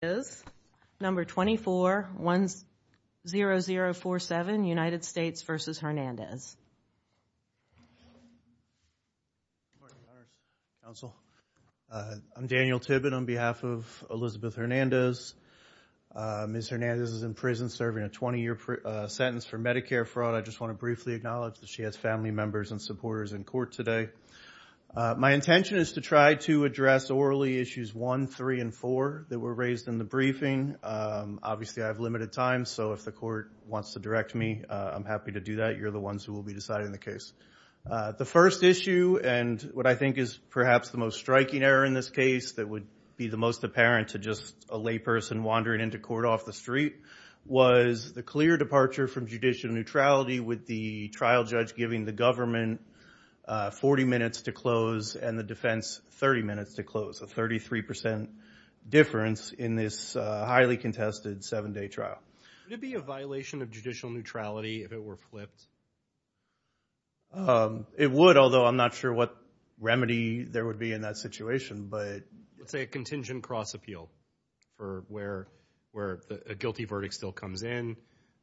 is number 24 10047 United States v. Hernandez. Council, I'm Daniel Tibbett on behalf of Elizabeth Hernandez. Ms. Hernandez is in prison serving a 20 year sentence for Medicare fraud. I just want to briefly acknowledge that she has family members and supporters in court today. My intention is to try to address orally issues one, three and four that were raised in the briefing. Obviously, I have limited time. So if the court wants to direct me, I'm happy to do that. You're the ones who will be deciding the case. The first issue and what I think is perhaps the most striking error in this case that would be the most apparent to just a lay person wandering into court off the street was the clear departure from judicial neutrality with the trial judge giving the government 40 minutes to close and the defense 30 minutes to close. A 33 percent difference in this highly contested seven day trial. Would it be a violation of judicial neutrality if it were flipped? It would, although I'm not sure what remedy there would be in that situation, but it's a contingent cross appeal for where where a guilty verdict still comes in.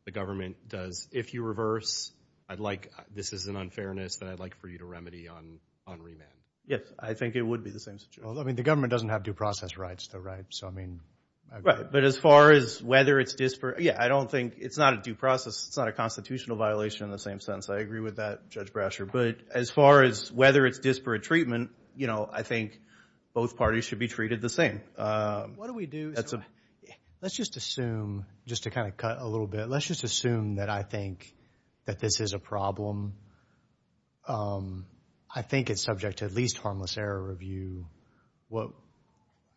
The government does. If you reverse, I'd like this is an unfairness that I'd like for you to remedy on on remand. Yes, I think it would be the same. I mean, the government doesn't have due process rights, though, right? So, I mean, right. But as far as whether it's disparate. Yeah, I don't think it's not a due process. It's not a constitutional violation in the same sense. I agree with that, Judge Brasher. But as far as whether it's disparate treatment, you know, I think both parties should be treated the same. What do we do? That's a let's just assume just to kind of cut a little bit. Let's just assume that I think that this is a problem. I think it's subject to at least harmless error review. Well,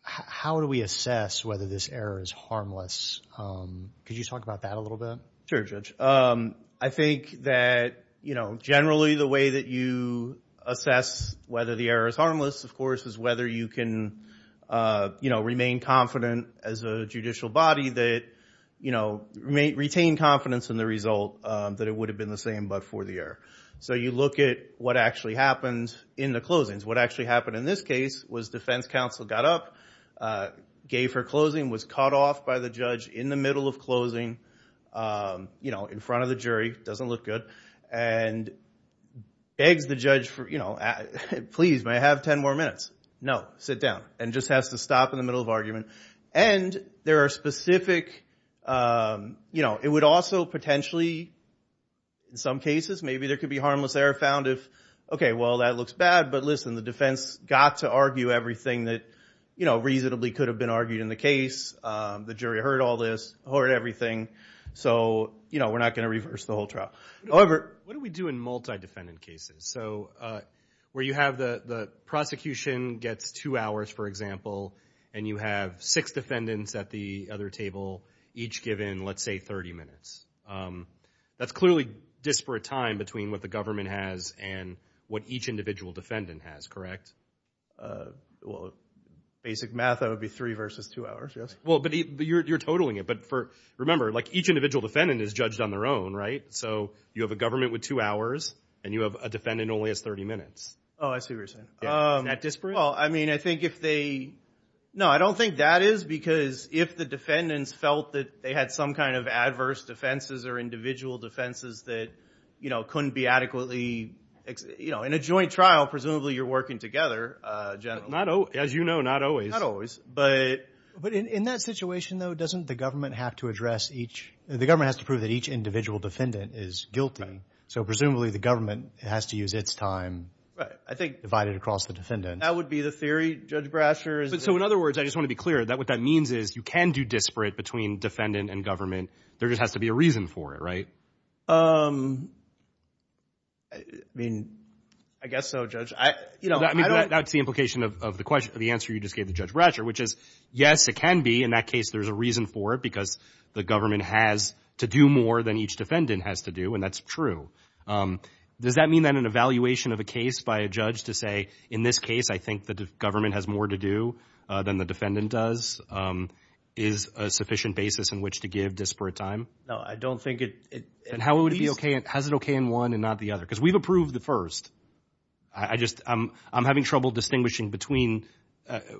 how do we assess whether this error is harmless? Could you talk about that a little bit? Sure, Judge. I think that, you know, generally the way that you assess whether the error is harmless, of course, is whether you can, you know, remain confident as a judicial body that, you know, may retain confidence in the result that it would have been the same but for the error. So you look at what actually happens in the closings. What actually happened in this case was defense counsel got up, gave her closing, was cut off by the judge in the middle of closing, you know, in front of the jury. Doesn't look good. And begs the judge for, you know, please, may I have 10 more minutes? No. Sit down. And just has to stop in the middle of argument. And there are specific, you know, it would also potentially in some cases, maybe there could be harmless error found if, OK, well, that looks bad. But listen, the defense got to argue everything that, you know, reasonably could have been argued in the case. The jury heard all this, heard everything. So, you know, we're not going to reverse the whole trial. However, what do we do in multi-defendant cases? So where you have the prosecution gets two hours, for example, and you have six defendants at the other table each given, let's say, 30 minutes. That's clearly disparate time between what the government has and what each individual defendant has, correct? Well, basic math, that would be three versus two hours, yes. Well, but you're totaling it. But remember, like each individual defendant is judged on their own, right? So you have a government with two hours and you have a defendant only has 30 minutes. Oh, I see what you're saying. Is that disparate? Well, I mean, I think if they... No, I don't think that is, because if the defendants felt that they had some kind of adverse defenses or individual defenses that, you know, couldn't be adequately, you know, in a joint trial, presumably you're working together, generally. Not, as you know, not always. But in that situation, though, doesn't the government have to address each? The government has to prove that each individual defendant is guilty. So presumably the government has to use its time. Right. I think... Divided across the defendant. That would be the theory, Judge Brasher. But so in other words, I just want to be clear that what that means is you can do disparate between defendant and government. There just has to be a reason for it, right? I mean, I guess so, Judge. I mean, that's the implication of the question of the answer you just gave the Judge Brasher, which is, yes, it can be in that case. There's a reason for it, because the government has to do more than each defendant has to do. And that's true. Does that mean that an evaluation of a case by a judge to say, in this case, I think the government has more to do than the defendant does is a sufficient basis in which to give disparate time? No, I don't think it... And how would it be OK? Has it OK in one and not the other? Because we've approved the first. I just I'm I'm having trouble distinguishing between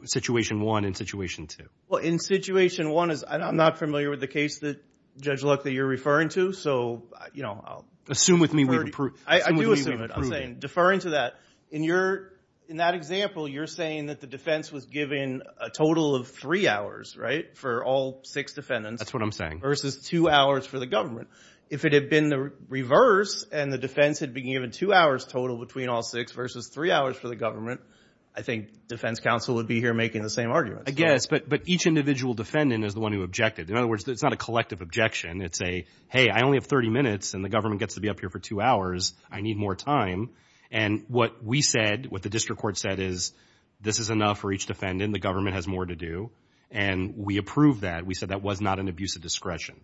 situation one and situation two. Well, in situation one is I'm not familiar with the case that, Judge Luck, that you're referring to. So, you know, I'll... Assume with me we've approved... I do assume it. I'm saying, deferring to that, in your... In that example, you're saying that the defense was given a total of three hours, right, for all six defendants. That's what I'm saying. Versus two hours for the government. If it had been the reverse and the defense had been given two hours total between all six versus three hours for the government, I think defense counsel would be here making the same argument. I guess. But but each individual defendant is the one who objected. In other words, it's not a collective objection. It's a, hey, I only have 30 minutes and the government gets to be up here for two hours. I need more time. And what we said, what the district court said is this is enough for each defendant. The government has more to do. And we approve that. We said that was not an abuse of discretion.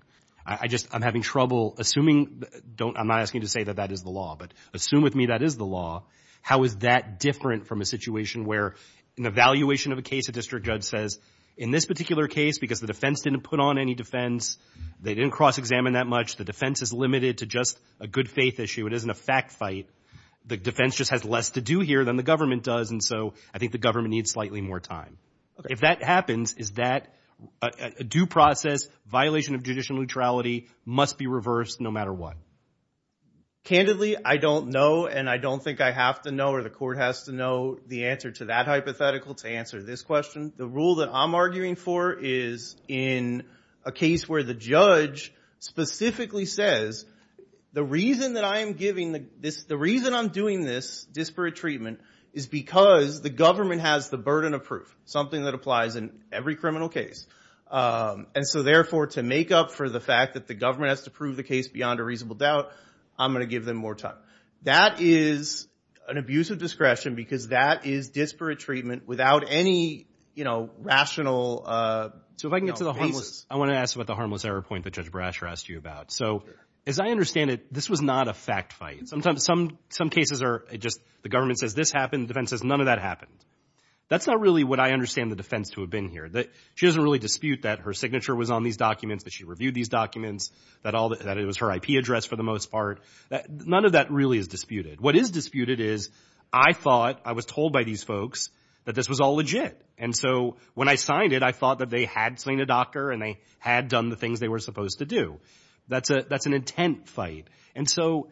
I just I'm having trouble assuming. Don't I'm not asking you to say that that is the law, but assume with me that is the law. How is that different from a situation where an evaluation of a case, a district judge says in this particular case, because the defense didn't put on any defense, they didn't cross-examine that much. The defense is limited to just a good faith issue. It isn't a fact fight. The defense just has less to do here than the government does. And so I think the government needs slightly more time. If that happens, is that a due process violation of judicial neutrality must be reversed no matter what? Candidly, I don't know, and I don't think I have to know or the court has to know the answer to that hypothetical to answer this question. The rule that I'm arguing for is in a case where the judge specifically says the reason that I am giving this, the reason I'm doing this disparate treatment is because the government has the burden of proof, something that applies in every criminal case. And so therefore, to make up for the fact that the government has to prove the case beyond a reasonable doubt, I'm going to give them more time. That is an abuse of discretion because that is disparate treatment without any, you know, rational basis. I want to ask about the harmless error point that Judge Brasher asked you about. So as I understand it, this was not a fact fight. Sometimes some cases are just the government says this happened. The defense says none of that happened. That's not really what I understand the defense to have been here, that she doesn't really dispute that her signature was on these documents, that she reviewed these documents, that all that it was her IP address for the most part, that none of that really is disputed. What is disputed is I thought I was told by these folks that this was all legit. And so when I signed it, I thought that they had seen a doctor and they had done the things they were supposed to do. That's a that's an intent fight. And so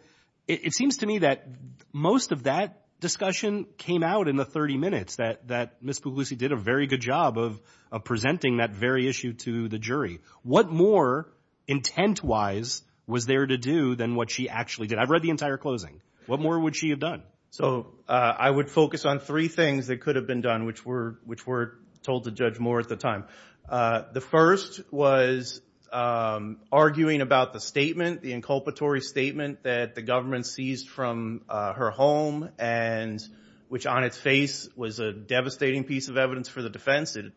it seems to me that most of that discussion came out in the 30 minutes that that Miss Puglisi did a very good job of presenting that very issue to the jury. What more intent wise was there to do than what she actually did? I've read the entire closing. What more would she have done? So I would focus on three things that could have been done, which were which were told to judge more at the time. The first was arguing about the statement, the inculpatory statement that the government seized from her home. And which on its face was a devastating piece of evidence for the defense. It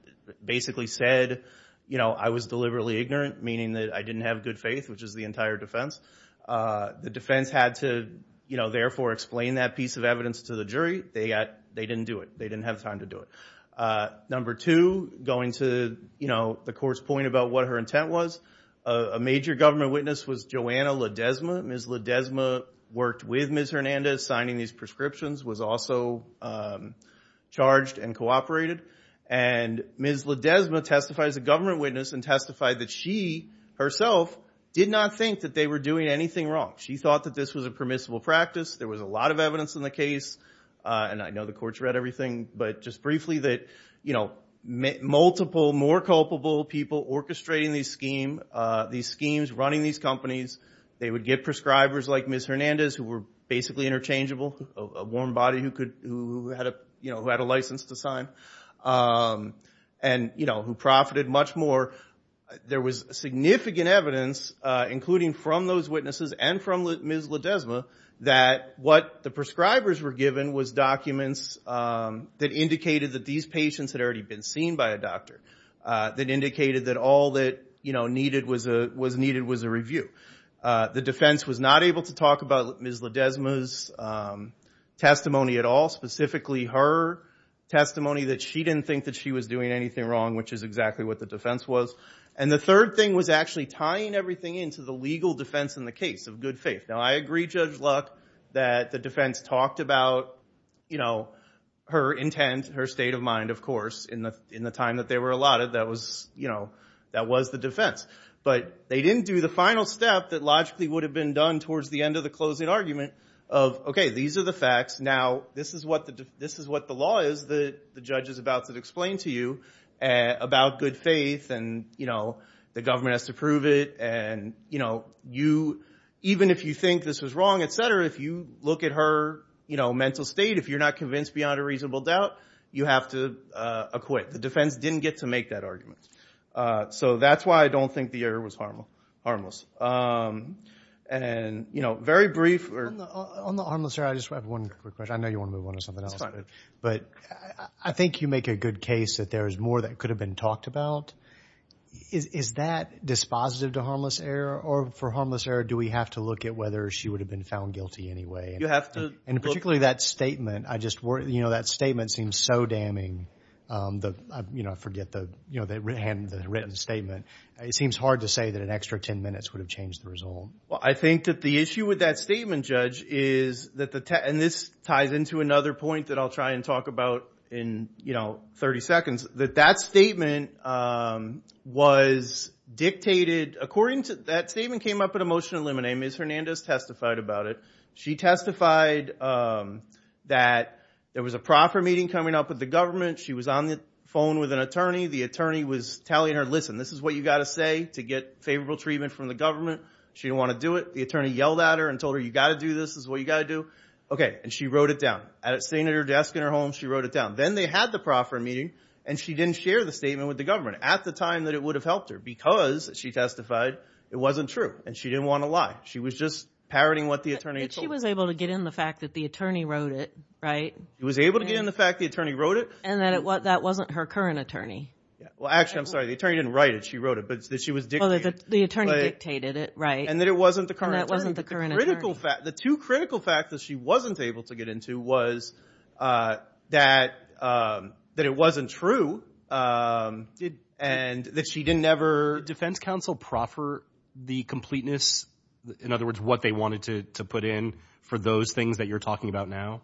basically said, you know, I was deliberately ignorant, meaning that I didn't have good faith, which is the entire defense. The defense had to, you know, therefore explain that piece of evidence to the jury. They got they didn't do it. They didn't have time to do it. Number two, going to, you know, the court's point about what her intent was. A major government witness was Joanna Ledesma. Ms. Ledesma worked with Ms. Hernandez, signing these prescriptions, was also charged and cooperated. And Ms. Ledesma testified as a government witness and testified that she herself did not think that they were doing anything wrong. She thought that this was a permissible practice. There was a lot of evidence in the case. And I know the courts read everything. But just briefly that, you know, multiple, more culpable people orchestrating these scheme, these schemes, running these companies, they would get prescribers like Ms. Hernandez, who were basically interchangeable, a warm body who could, who had a, you know, who had a license to sign and, you know, who profited much more. There was significant evidence, including from those witnesses and from Ms. Ledesma, that what the prescribers were given was documents that indicated that these patients had already been seen by a doctor, that indicated that all that, you know, needed was a was needed was a review. The defense was not able to talk about Ms. Ledesma's testimony at all, specifically her testimony that she didn't think that she was doing anything wrong, which is exactly what the defense was. And the third thing was actually tying everything into the legal defense in the case of good faith. Now, I agree, Judge Luck, that the defense talked about, you know, her intent, her state of mind, of course, in the in the time that they were allotted, that was, you know, that was the defense. But they didn't do the final step that logically would have been done towards the end of the closing argument of, okay, these are the facts, now this is what the, this is what the law is that the judge is about to explain to you about good faith. And, you know, the government has to prove it. And, you know, you, even if you think this was wrong, etc., if you look at her, you know, mental state, if you're not convinced beyond a reasonable doubt, you have to acquit. The defense didn't get to make that argument. So that's why I don't think the error was harmful, harmless. And, you know, very brief or... On the harmless error, I just have one quick question. I know you want to move on to something else. But I think you make a good case that there is more that could have been talked about. Is that dispositive to harmless error? Or for harmless error, do we have to look at whether she would have been found guilty anyway? You have to... And particularly that statement, I just worry, you know, that statement seems so damning. The, you know, I forget the, you know, the written statement. It seems hard to say that an extra 10 minutes would have changed the result. Well, I think that the issue with that statement, Judge, is that the... And this ties into another point that I'll try and talk about in, you know, 30 seconds. That that statement was dictated... According to... That statement came up at a motion of limine. Ms. Hernandez testified about it. She testified that there was a proper meeting coming up with the government. She was on the phone with an attorney. The attorney was telling her, listen, this is what you've got to say to get favorable treatment from the government. She didn't want to do it. The attorney yelled at her and told her, you've got to do this. This is what you've got to do. Okay, and she wrote it down. And it's sitting at her desk in her home. She wrote it down. Then they had the proper meeting, and she didn't share the statement with the government. At the time that it would have helped her because she testified, it wasn't true. And she didn't want to lie. She was just parroting what the attorney told her. But she was able to get in the fact that the attorney wrote it, right? She was able to get in the fact the attorney wrote it. And that wasn't her current attorney. Well, actually, I'm sorry. The attorney didn't write it. She wrote it. But she was dictating it. The attorney dictated it, right. And that it wasn't the current attorney. And that wasn't the current attorney. The two critical facts that she wasn't able to get into was that it wasn't true and that she didn't ever. Did the defense counsel proffer the completeness, in other words, what they wanted to put in for those things that you're talking about now?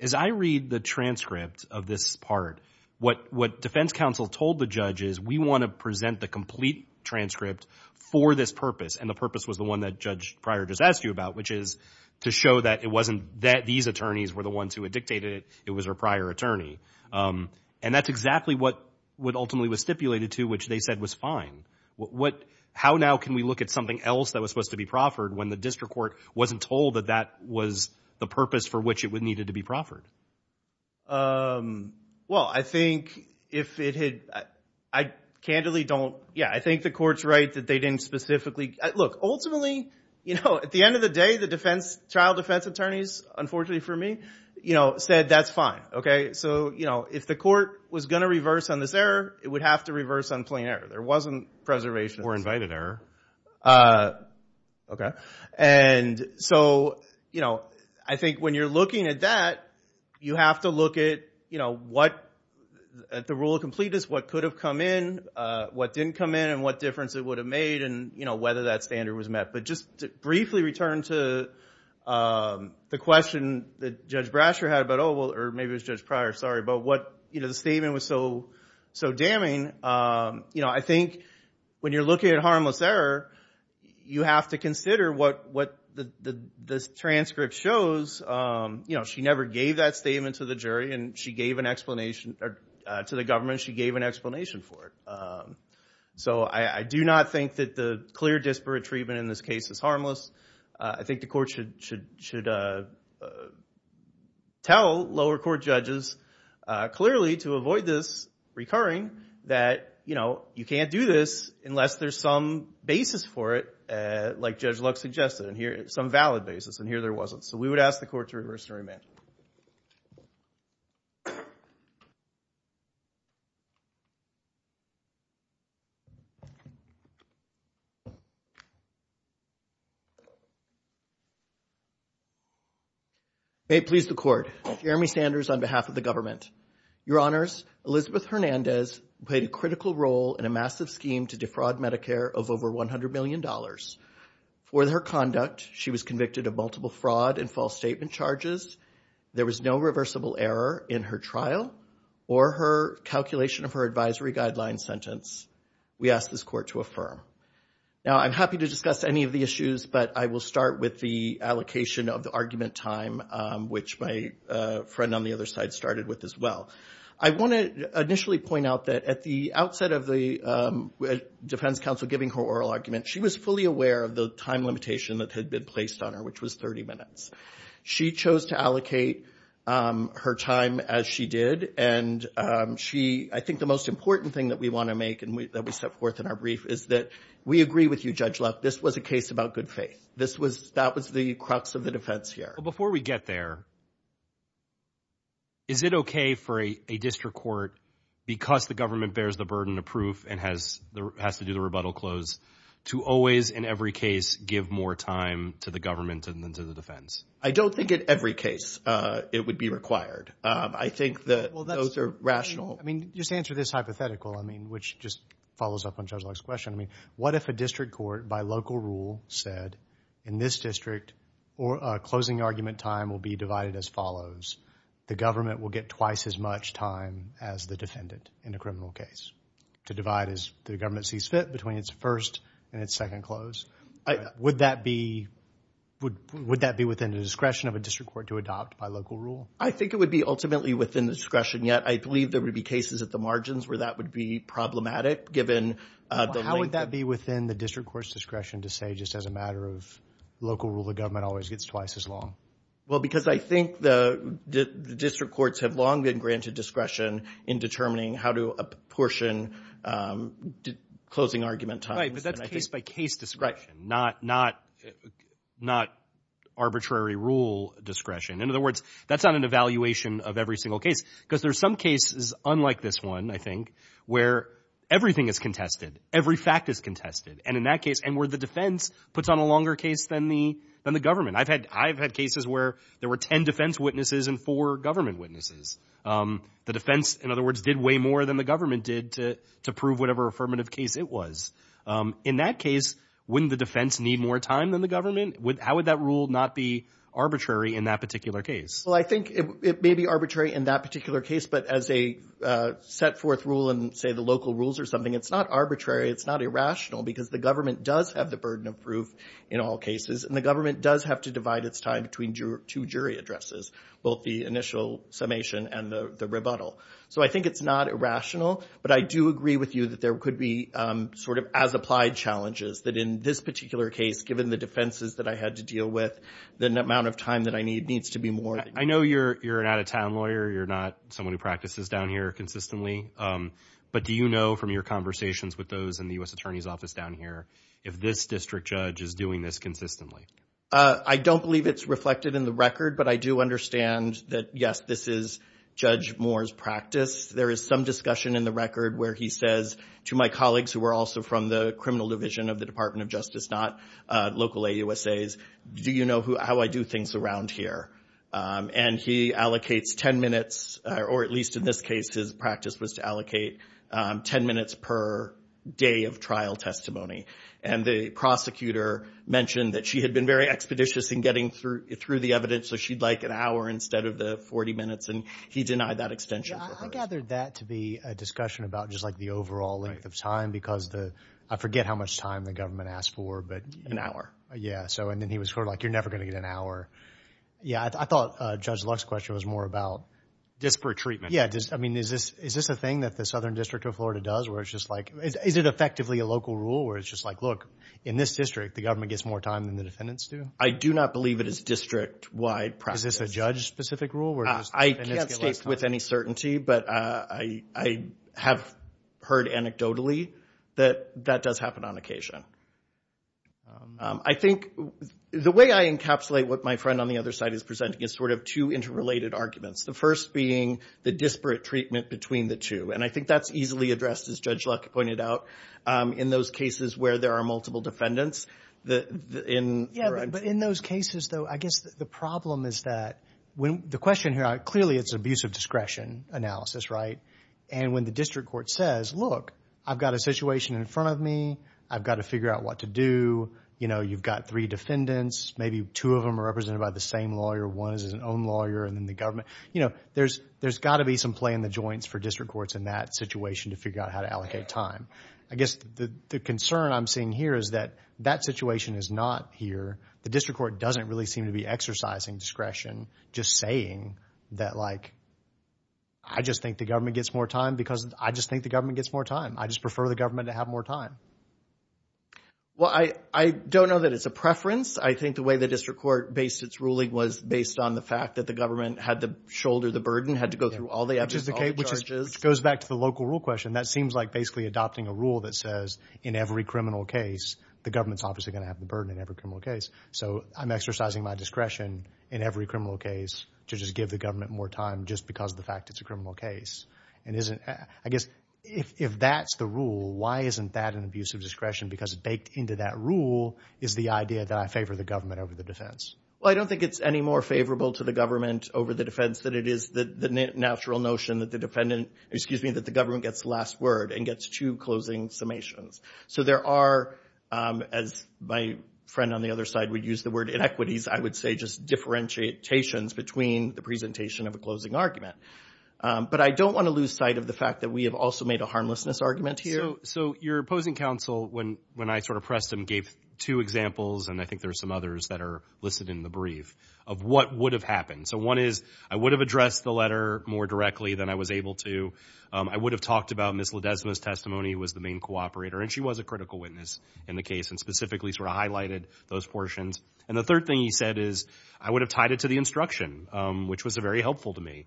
As I read the transcript of this part, what defense counsel told the judges, we want to present the complete transcript for this purpose. And the purpose was the one that Judge Pryor just asked you about, which is to show that these attorneys were the ones who had dictated it. It was her prior attorney. And that's exactly what ultimately was stipulated to, which they said was fine. How now can we look at something else that was supposed to be proffered when the district court wasn't told that that was the purpose for which it needed to be proffered? Well, I think if it had, I candidly don't. Yeah, I think the court's right that they didn't specifically. Look, ultimately, at the end of the day, the child defense attorneys, unfortunately for me, said that's fine. So if the court was going to reverse on this error, it would have to reverse on plain error. There wasn't preservation. Or invited error. OK. And so I think when you're looking at that, you have to look at the rule of completeness, what could have come in, what didn't come in, and what difference it would have made, and whether that standard was met. But just to briefly return to the question that Judge Brasher had about, oh, well, or maybe it was Judge Pryor, sorry, about what the statement was so damning. I think when you're looking at harmless error, you have to consider what this transcript shows. She never gave that statement to the government. She gave an explanation for it. So I do not think that the clear disparate treatment in this case is harmless. I think the court should tell lower court judges clearly, to avoid this recurring, that, you know, you can't do this unless there's some basis for it, like Judge Lux suggested. And here, some valid basis. And here there wasn't. So we would ask the court to reverse and remand. May it please the court. Jeremy Sanders on behalf of the government. Your honors, Elizabeth Hernandez played a critical role in a massive scheme to defraud Medicare of over $100 million. For her conduct, she was convicted of multiple fraud and false statement charges. There was no reversible error in her trial or her calculation of her advisory guideline sentence. We ask this court to affirm. Now, I'm happy to discuss any of the issues, but I will start with the allocation of the argument time, which my friend on the other side started with as well. I want to initially point out that at the outset of the defense counsel giving her oral argument, she was fully aware of the time limitation that had been placed on her, which was 30 minutes. She chose to allocate her time as she did. And she, I think the most important thing that we want to make and that we set forth in our brief is that we agree with you, Judge Lux, this was a case about good faith. This was, that was the crux of the defense here. Before we get there, is it okay for a district court, because the government bears the burden of proof and has to do the rebuttal close, to always, in every case, give more time to the government than to the defense? I don't think in every case it would be required. I think that those are rational. I mean, just answer this hypothetical, I mean, which just follows up on Judge Lux's question. I mean, what if a district court, by local rule, said, in this district, a closing argument time will be divided as follows. The government will get twice as much time as the defendant in a criminal case to divide as the government sees fit between its first and its second close. Would that be, would that be within the discretion of a district court to adopt by local rule? I think it would be ultimately within the discretion. Yet, I believe there would be cases at the margins where that would be problematic, given the length of... How would that be within the district court's discretion to say, just as a matter of local rule, the government always gets twice as long? Well, because I think the district courts have long been granted discretion in determining how to apportion closing argument time. Right, but that's case-by-case discretion, not arbitrary rule discretion. In other words, that's not an evaluation of every single case, because there's some cases, unlike this one, I think, where everything is contested, every fact is contested. And in that case, and where the defense puts on a longer case than the government. I've had cases where there were 10 defense witnesses and four government witnesses. The defense, in other words, did way more than the government did to prove whatever affirmative case it was. In that case, wouldn't the defense need more time than the government? How would that rule not be arbitrary in that particular case? Well, I think it may be arbitrary in that particular case, but as a set forth rule, and say the local rules or something, it's not arbitrary. It's not irrational, because the government does have the burden of proof in all cases. And the government does have to divide its time between two jury addresses, both the initial summation and the rebuttal. So I think it's not irrational. But I do agree with you that there could be sort of as applied challenges, that in this particular case, given the defenses that I had to deal with, the amount of time that I need needs to be more. I know you're an out-of-town lawyer. You're not someone who practices down here consistently, but do you know from your conversations with those in the U.S. Attorney's Office down here, if this district judge is doing this consistently? I don't believe it's reflected in the record, but I do understand that, yes, this is Judge Moore's practice. There is some discussion in the record where he says to my colleagues who are also from the criminal division of the Department of Justice, not local AUSAs, do you know how I do things around here? And he allocates 10 minutes, or at least in this case, his practice was to allocate 10 minutes per day of trial testimony. And the prosecutor mentioned that she had been very expeditious in getting through the evidence, so she'd like an hour instead of the 40 minutes, and he denied that extension for her. Yeah, I gathered that to be a discussion about just like the overall length of time because the—I forget how much time the government asked for, but— An hour. Yeah, so, and then he was sort of like, you're never going to get an hour. Yeah, I thought Judge Lux's question was more about— Disparate treatment. Yeah, I mean, is this a thing that the Southern District of Florida does where it's just like, is it effectively a local rule where it's just like, look, in this district, the government gets more time than the defendants do? I do not believe it is district-wide practice. Is this a judge-specific rule? I can't speak with any certainty, but I have heard anecdotally that that does happen on occasion. I think, the way I encapsulate what my friend on the other side is presenting is sort of two interrelated arguments, the first being the disparate treatment between the two, and I think that's easily addressed, as Judge Lux pointed out, in those cases where there are multiple defendants, in— Yeah, but in those cases, though, I guess the problem is that when—the question here, clearly it's an abuse of discretion analysis, right? And when the district court says, look, I've got a situation in front of me, I've got to figure out what to do, you know, you've got three defendants, maybe two of them are represented by the same lawyer, one is his own lawyer, and then the government—you know, there's got to be some play in the joints for district courts in that situation to figure out how to allocate time. I guess the concern I'm seeing here is that that situation is not here. The district court doesn't really seem to be exercising discretion just saying that, like, I just think the government gets more time because I just think the government gets more time. I just prefer the government to have more time. Well, I don't know that it's a preference. I think the way the district court based its ruling was based on the fact that the government had to shoulder the burden, had to go through all the abuse, all the charges. Which is the case—which goes back to the local rule question. That seems like basically adopting a rule that says in every criminal case, the government's obviously going to have the burden in every criminal case. So I'm exercising my discretion in every criminal case to just give the government more time just because of the fact it's a criminal case. And isn't—I guess if that's the rule, why isn't that an abuse of discretion? Because baked into that rule is the idea that I favor the government over the defense. Well, I don't think it's any more favorable to the government over the defense than it is the natural notion that the defendant—excuse me, that the government gets the last word and gets two closing summations. So there are, as my friend on the other side would use the word inequities, I would say just differentiations between the presentation of a closing argument. But I don't want to lose sight of the fact that we have also made a harmlessness argument here. So your opposing counsel, when I sort of pressed him, gave two examples, and I think there are some others that are listed in the brief, of what would have happened. So one is, I would have addressed the letter more directly than I was able to. I would have talked about Ms. Ledesma's testimony was the main cooperator, and she was a critical witness in the case and specifically sort of highlighted those portions. And the third thing he said is, I would have tied it to the instruction, which was very helpful to me.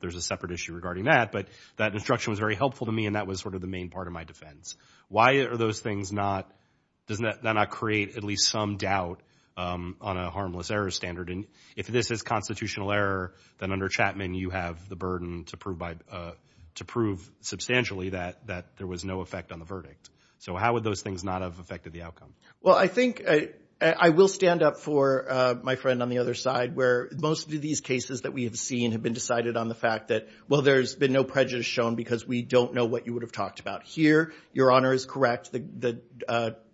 There's a separate issue regarding that, but that instruction was very helpful to me, and that was sort of the main part of my defense. Why are those things not—does that not create at least some doubt on a harmless error standard? If this is constitutional error, then under Chapman, you have the burden to prove substantially that there was no effect on the verdict. So how would those things not have affected the outcome? Well, I think I will stand up for my friend on the other side, where most of these cases that we have seen have been decided on the fact that, well, there's been no prejudice shown because we don't know what you would have talked about. Here, Your Honor is correct, the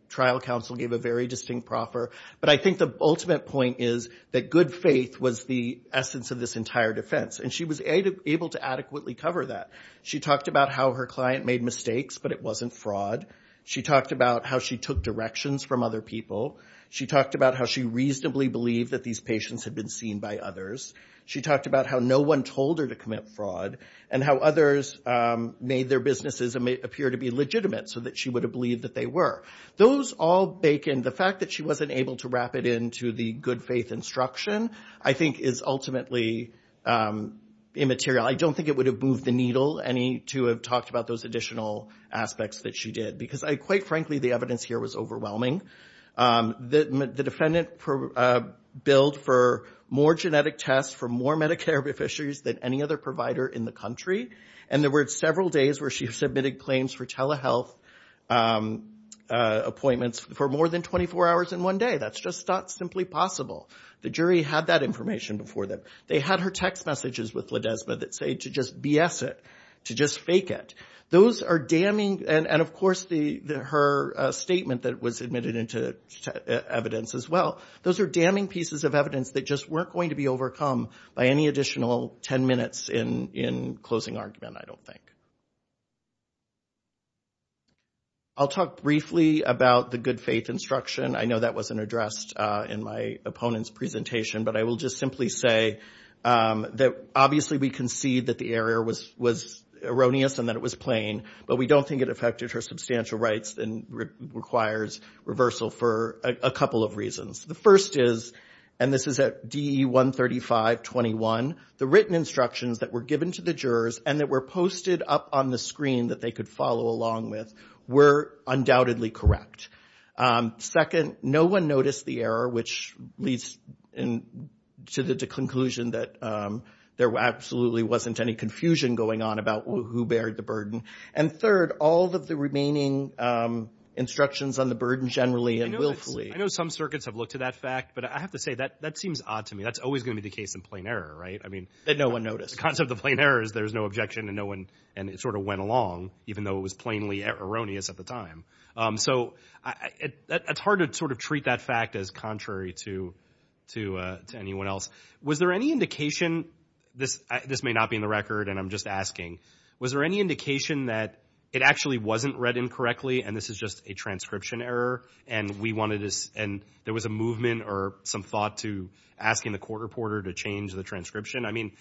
trial counsel gave a very distinct proffer. But I think the ultimate point is that good faith was the essence of this entire defense, and she was able to adequately cover that. She talked about how her client made mistakes, but it wasn't fraud. She talked about how she took directions from other people. She talked about how she reasonably believed that these patients had been seen by others. She talked about how no one told her to commit fraud and how others made their businesses appear to be legitimate so that she would have believed that they were. Those all bake in the fact that she wasn't able to wrap it into the good faith instruction, I think, is ultimately immaterial. I don't think it would have moved the needle any to have talked about those additional aspects that she did because, quite frankly, the evidence here was overwhelming. The defendant billed for more genetic tests from more Medicare beneficiaries than any other provider in the country, and there were several days where she submitted claims for telehealth appointments for more than 24 hours in one day. That's just not simply possible. The jury had that information before them. They had her text messages with Ledesma that say to just BS it, to just fake it. Those are damning, and of course her statement that was admitted into evidence as well. Those are damning pieces of evidence that just weren't going to be overcome by any additional 10 minutes in closing argument, I don't think. I'll talk briefly about the good faith instruction. I know that wasn't addressed in my opponent's presentation, but I will just simply say that obviously we concede that the error was erroneous and that it was plain, but we don't think it affected her substantial rights and requires reversal for a couple of reasons. The first is, and this is at DE 135.21, the written instructions that were given to the jurors and that were posted up on the screen that they could follow along with were undoubtedly correct. Second, no one noticed the error, which leads to the conclusion that there absolutely wasn't any confusion going on about who bared the burden. And third, all of the remaining instructions on the burden generally and willfully. I know some circuits have looked to that fact, but I have to say that that seems odd to me. That's always going to be the case in plain error, right? That no one noticed. The concept of plain error is there's no objection and it sort of went along, even though it was plainly erroneous at the time. So it's hard to sort of treat that fact as contrary to anyone else. Was there any indication, this may not be in the record and I'm just asking, was there any indication that it actually wasn't read incorrectly and this is just a transcription error and we wanted this and there was a movement or some thought to asking the court reporter to change the transcription? I mean...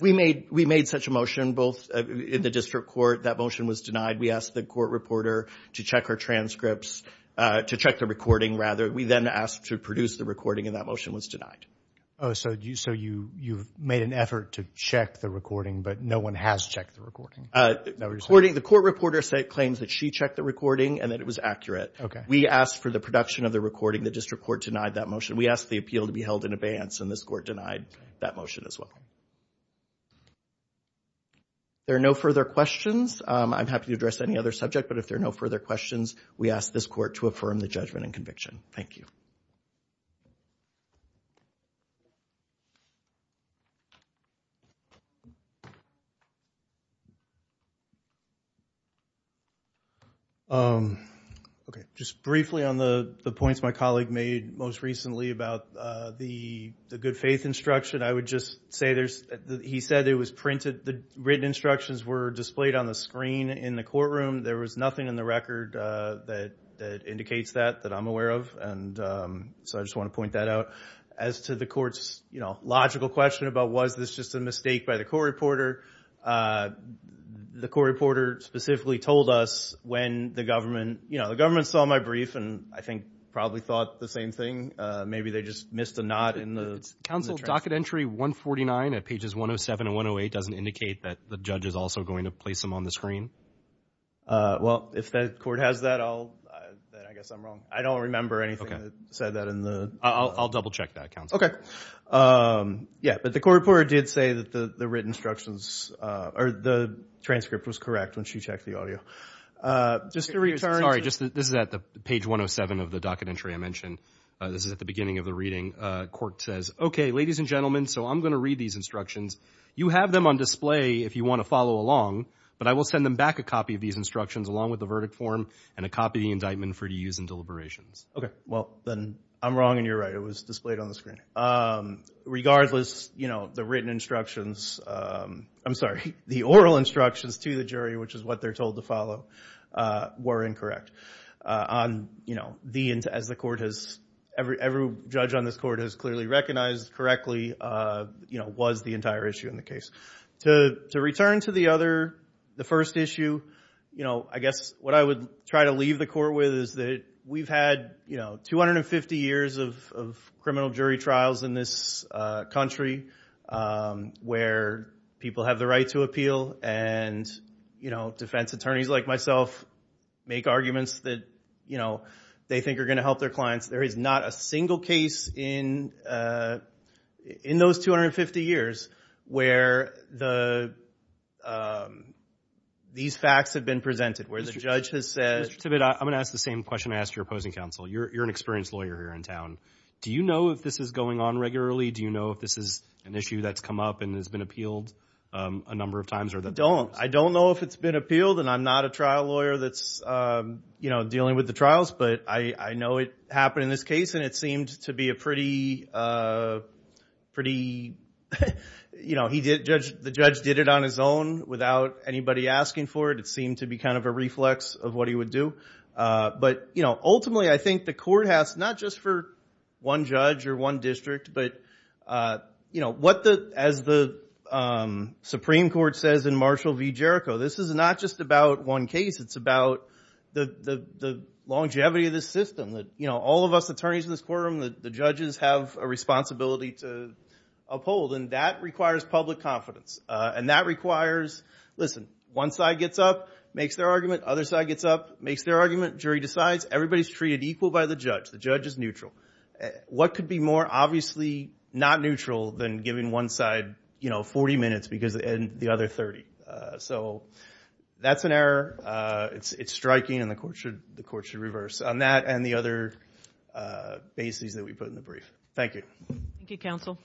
We made such a motion both in the district court, that motion was denied. We asked the court reporter to check our transcripts, to check the recording rather. We then asked to produce the recording and that motion was denied. Oh, so you've made an effort to check the recording, but no one has checked the recording? The court reporter claims that she checked the recording and that it was accurate. We asked for the production of the recording, the district court denied that motion. We asked the appeal to be held in advance and this court denied that motion as well. There are no further questions. I'm happy to address any other subject, but if there are no further questions, we ask this court to affirm the judgment and conviction. Thank you. Okay, just briefly on the points my colleague made most recently about the good faith instruction, I would just say there's... He said it was printed, the written instructions were displayed on the screen in the courtroom. There was nothing in the record that indicates that, that I'm aware of, and so I just want to point that out. As to the court's logical question about was this just a mistake by the court reporter, the court reporter specifically told us when the government, you know, the government saw my brief and I think probably thought the same thing. Maybe they just missed a knot in the transcript. Counsel, docket entry 149 at pages 107 and 108 doesn't indicate that the judge is also going to place them on the screen. Well, if the court has that, I guess I'm wrong. I don't remember anything that said that in the... I'll double check that, counsel. Yeah, but the court reporter did say that the written instructions, or the transcript was correct when she checked the audio. Just to return to... Sorry, this is at page 107 of the docket entry I mentioned, this is at the beginning of the reading. Court says, okay, ladies and gentlemen, so I'm going to read these instructions. You have them on display if you want to follow along, but I will send them back a copy of these instructions along with the verdict form and a copy of the indictment for use in deliberations. Okay. Well, then I'm wrong and you're right. It was displayed on the screen. Regardless, you know, the written instructions, I'm sorry, the oral instructions to the jury, which is what they're told to follow, were incorrect. On, you know, as the court has... Every judge on this court has clearly recognized correctly, you know, was the entire issue in the case. To return to the other, the first issue, you know, I guess what I would try to leave the court with is that we've had, you know, 250 years of criminal jury trials in this country where people have the right to appeal and, you know, defense attorneys like myself make arguments that, you know, they think are going to help their clients. There is not a single case in those 250 years where these facts have been presented, where the judge has said... Mr. Tibbitt, I'm going to ask the same question I asked your opposing counsel. You're an experienced lawyer here in town. Do you know if this is going on regularly? Do you know if this is an issue that's come up and has been appealed a number of times or that... I don't. I don't know if it's been appealed and I'm not a trial lawyer that's, you know, dealing with the trials, but I know it happened in this case and it seemed to be a pretty, pretty, you know, he did... The judge did it on his own without anybody asking for it. It seemed to be kind of a reflex of what he would do, but, you know, ultimately, I think the court has, not just for one judge or one district, but, you know, what the... As the Supreme Court says in Marshall v. Jericho, this is not just about one case. It's about the longevity of this system that, you know, all of us attorneys in this courtroom, the judges have a responsibility to uphold, and that requires public confidence. And that requires, listen, one side gets up, makes their argument, other side gets up, makes their argument, jury decides, everybody's treated equal by the judge. The judge is neutral. What could be more, obviously, not neutral than giving one side, you know, 40 minutes because... And the other 30. So that's an error. It's striking and the court should reverse. On that and the other bases that we put in the brief. Thank you. Thank you, counsel.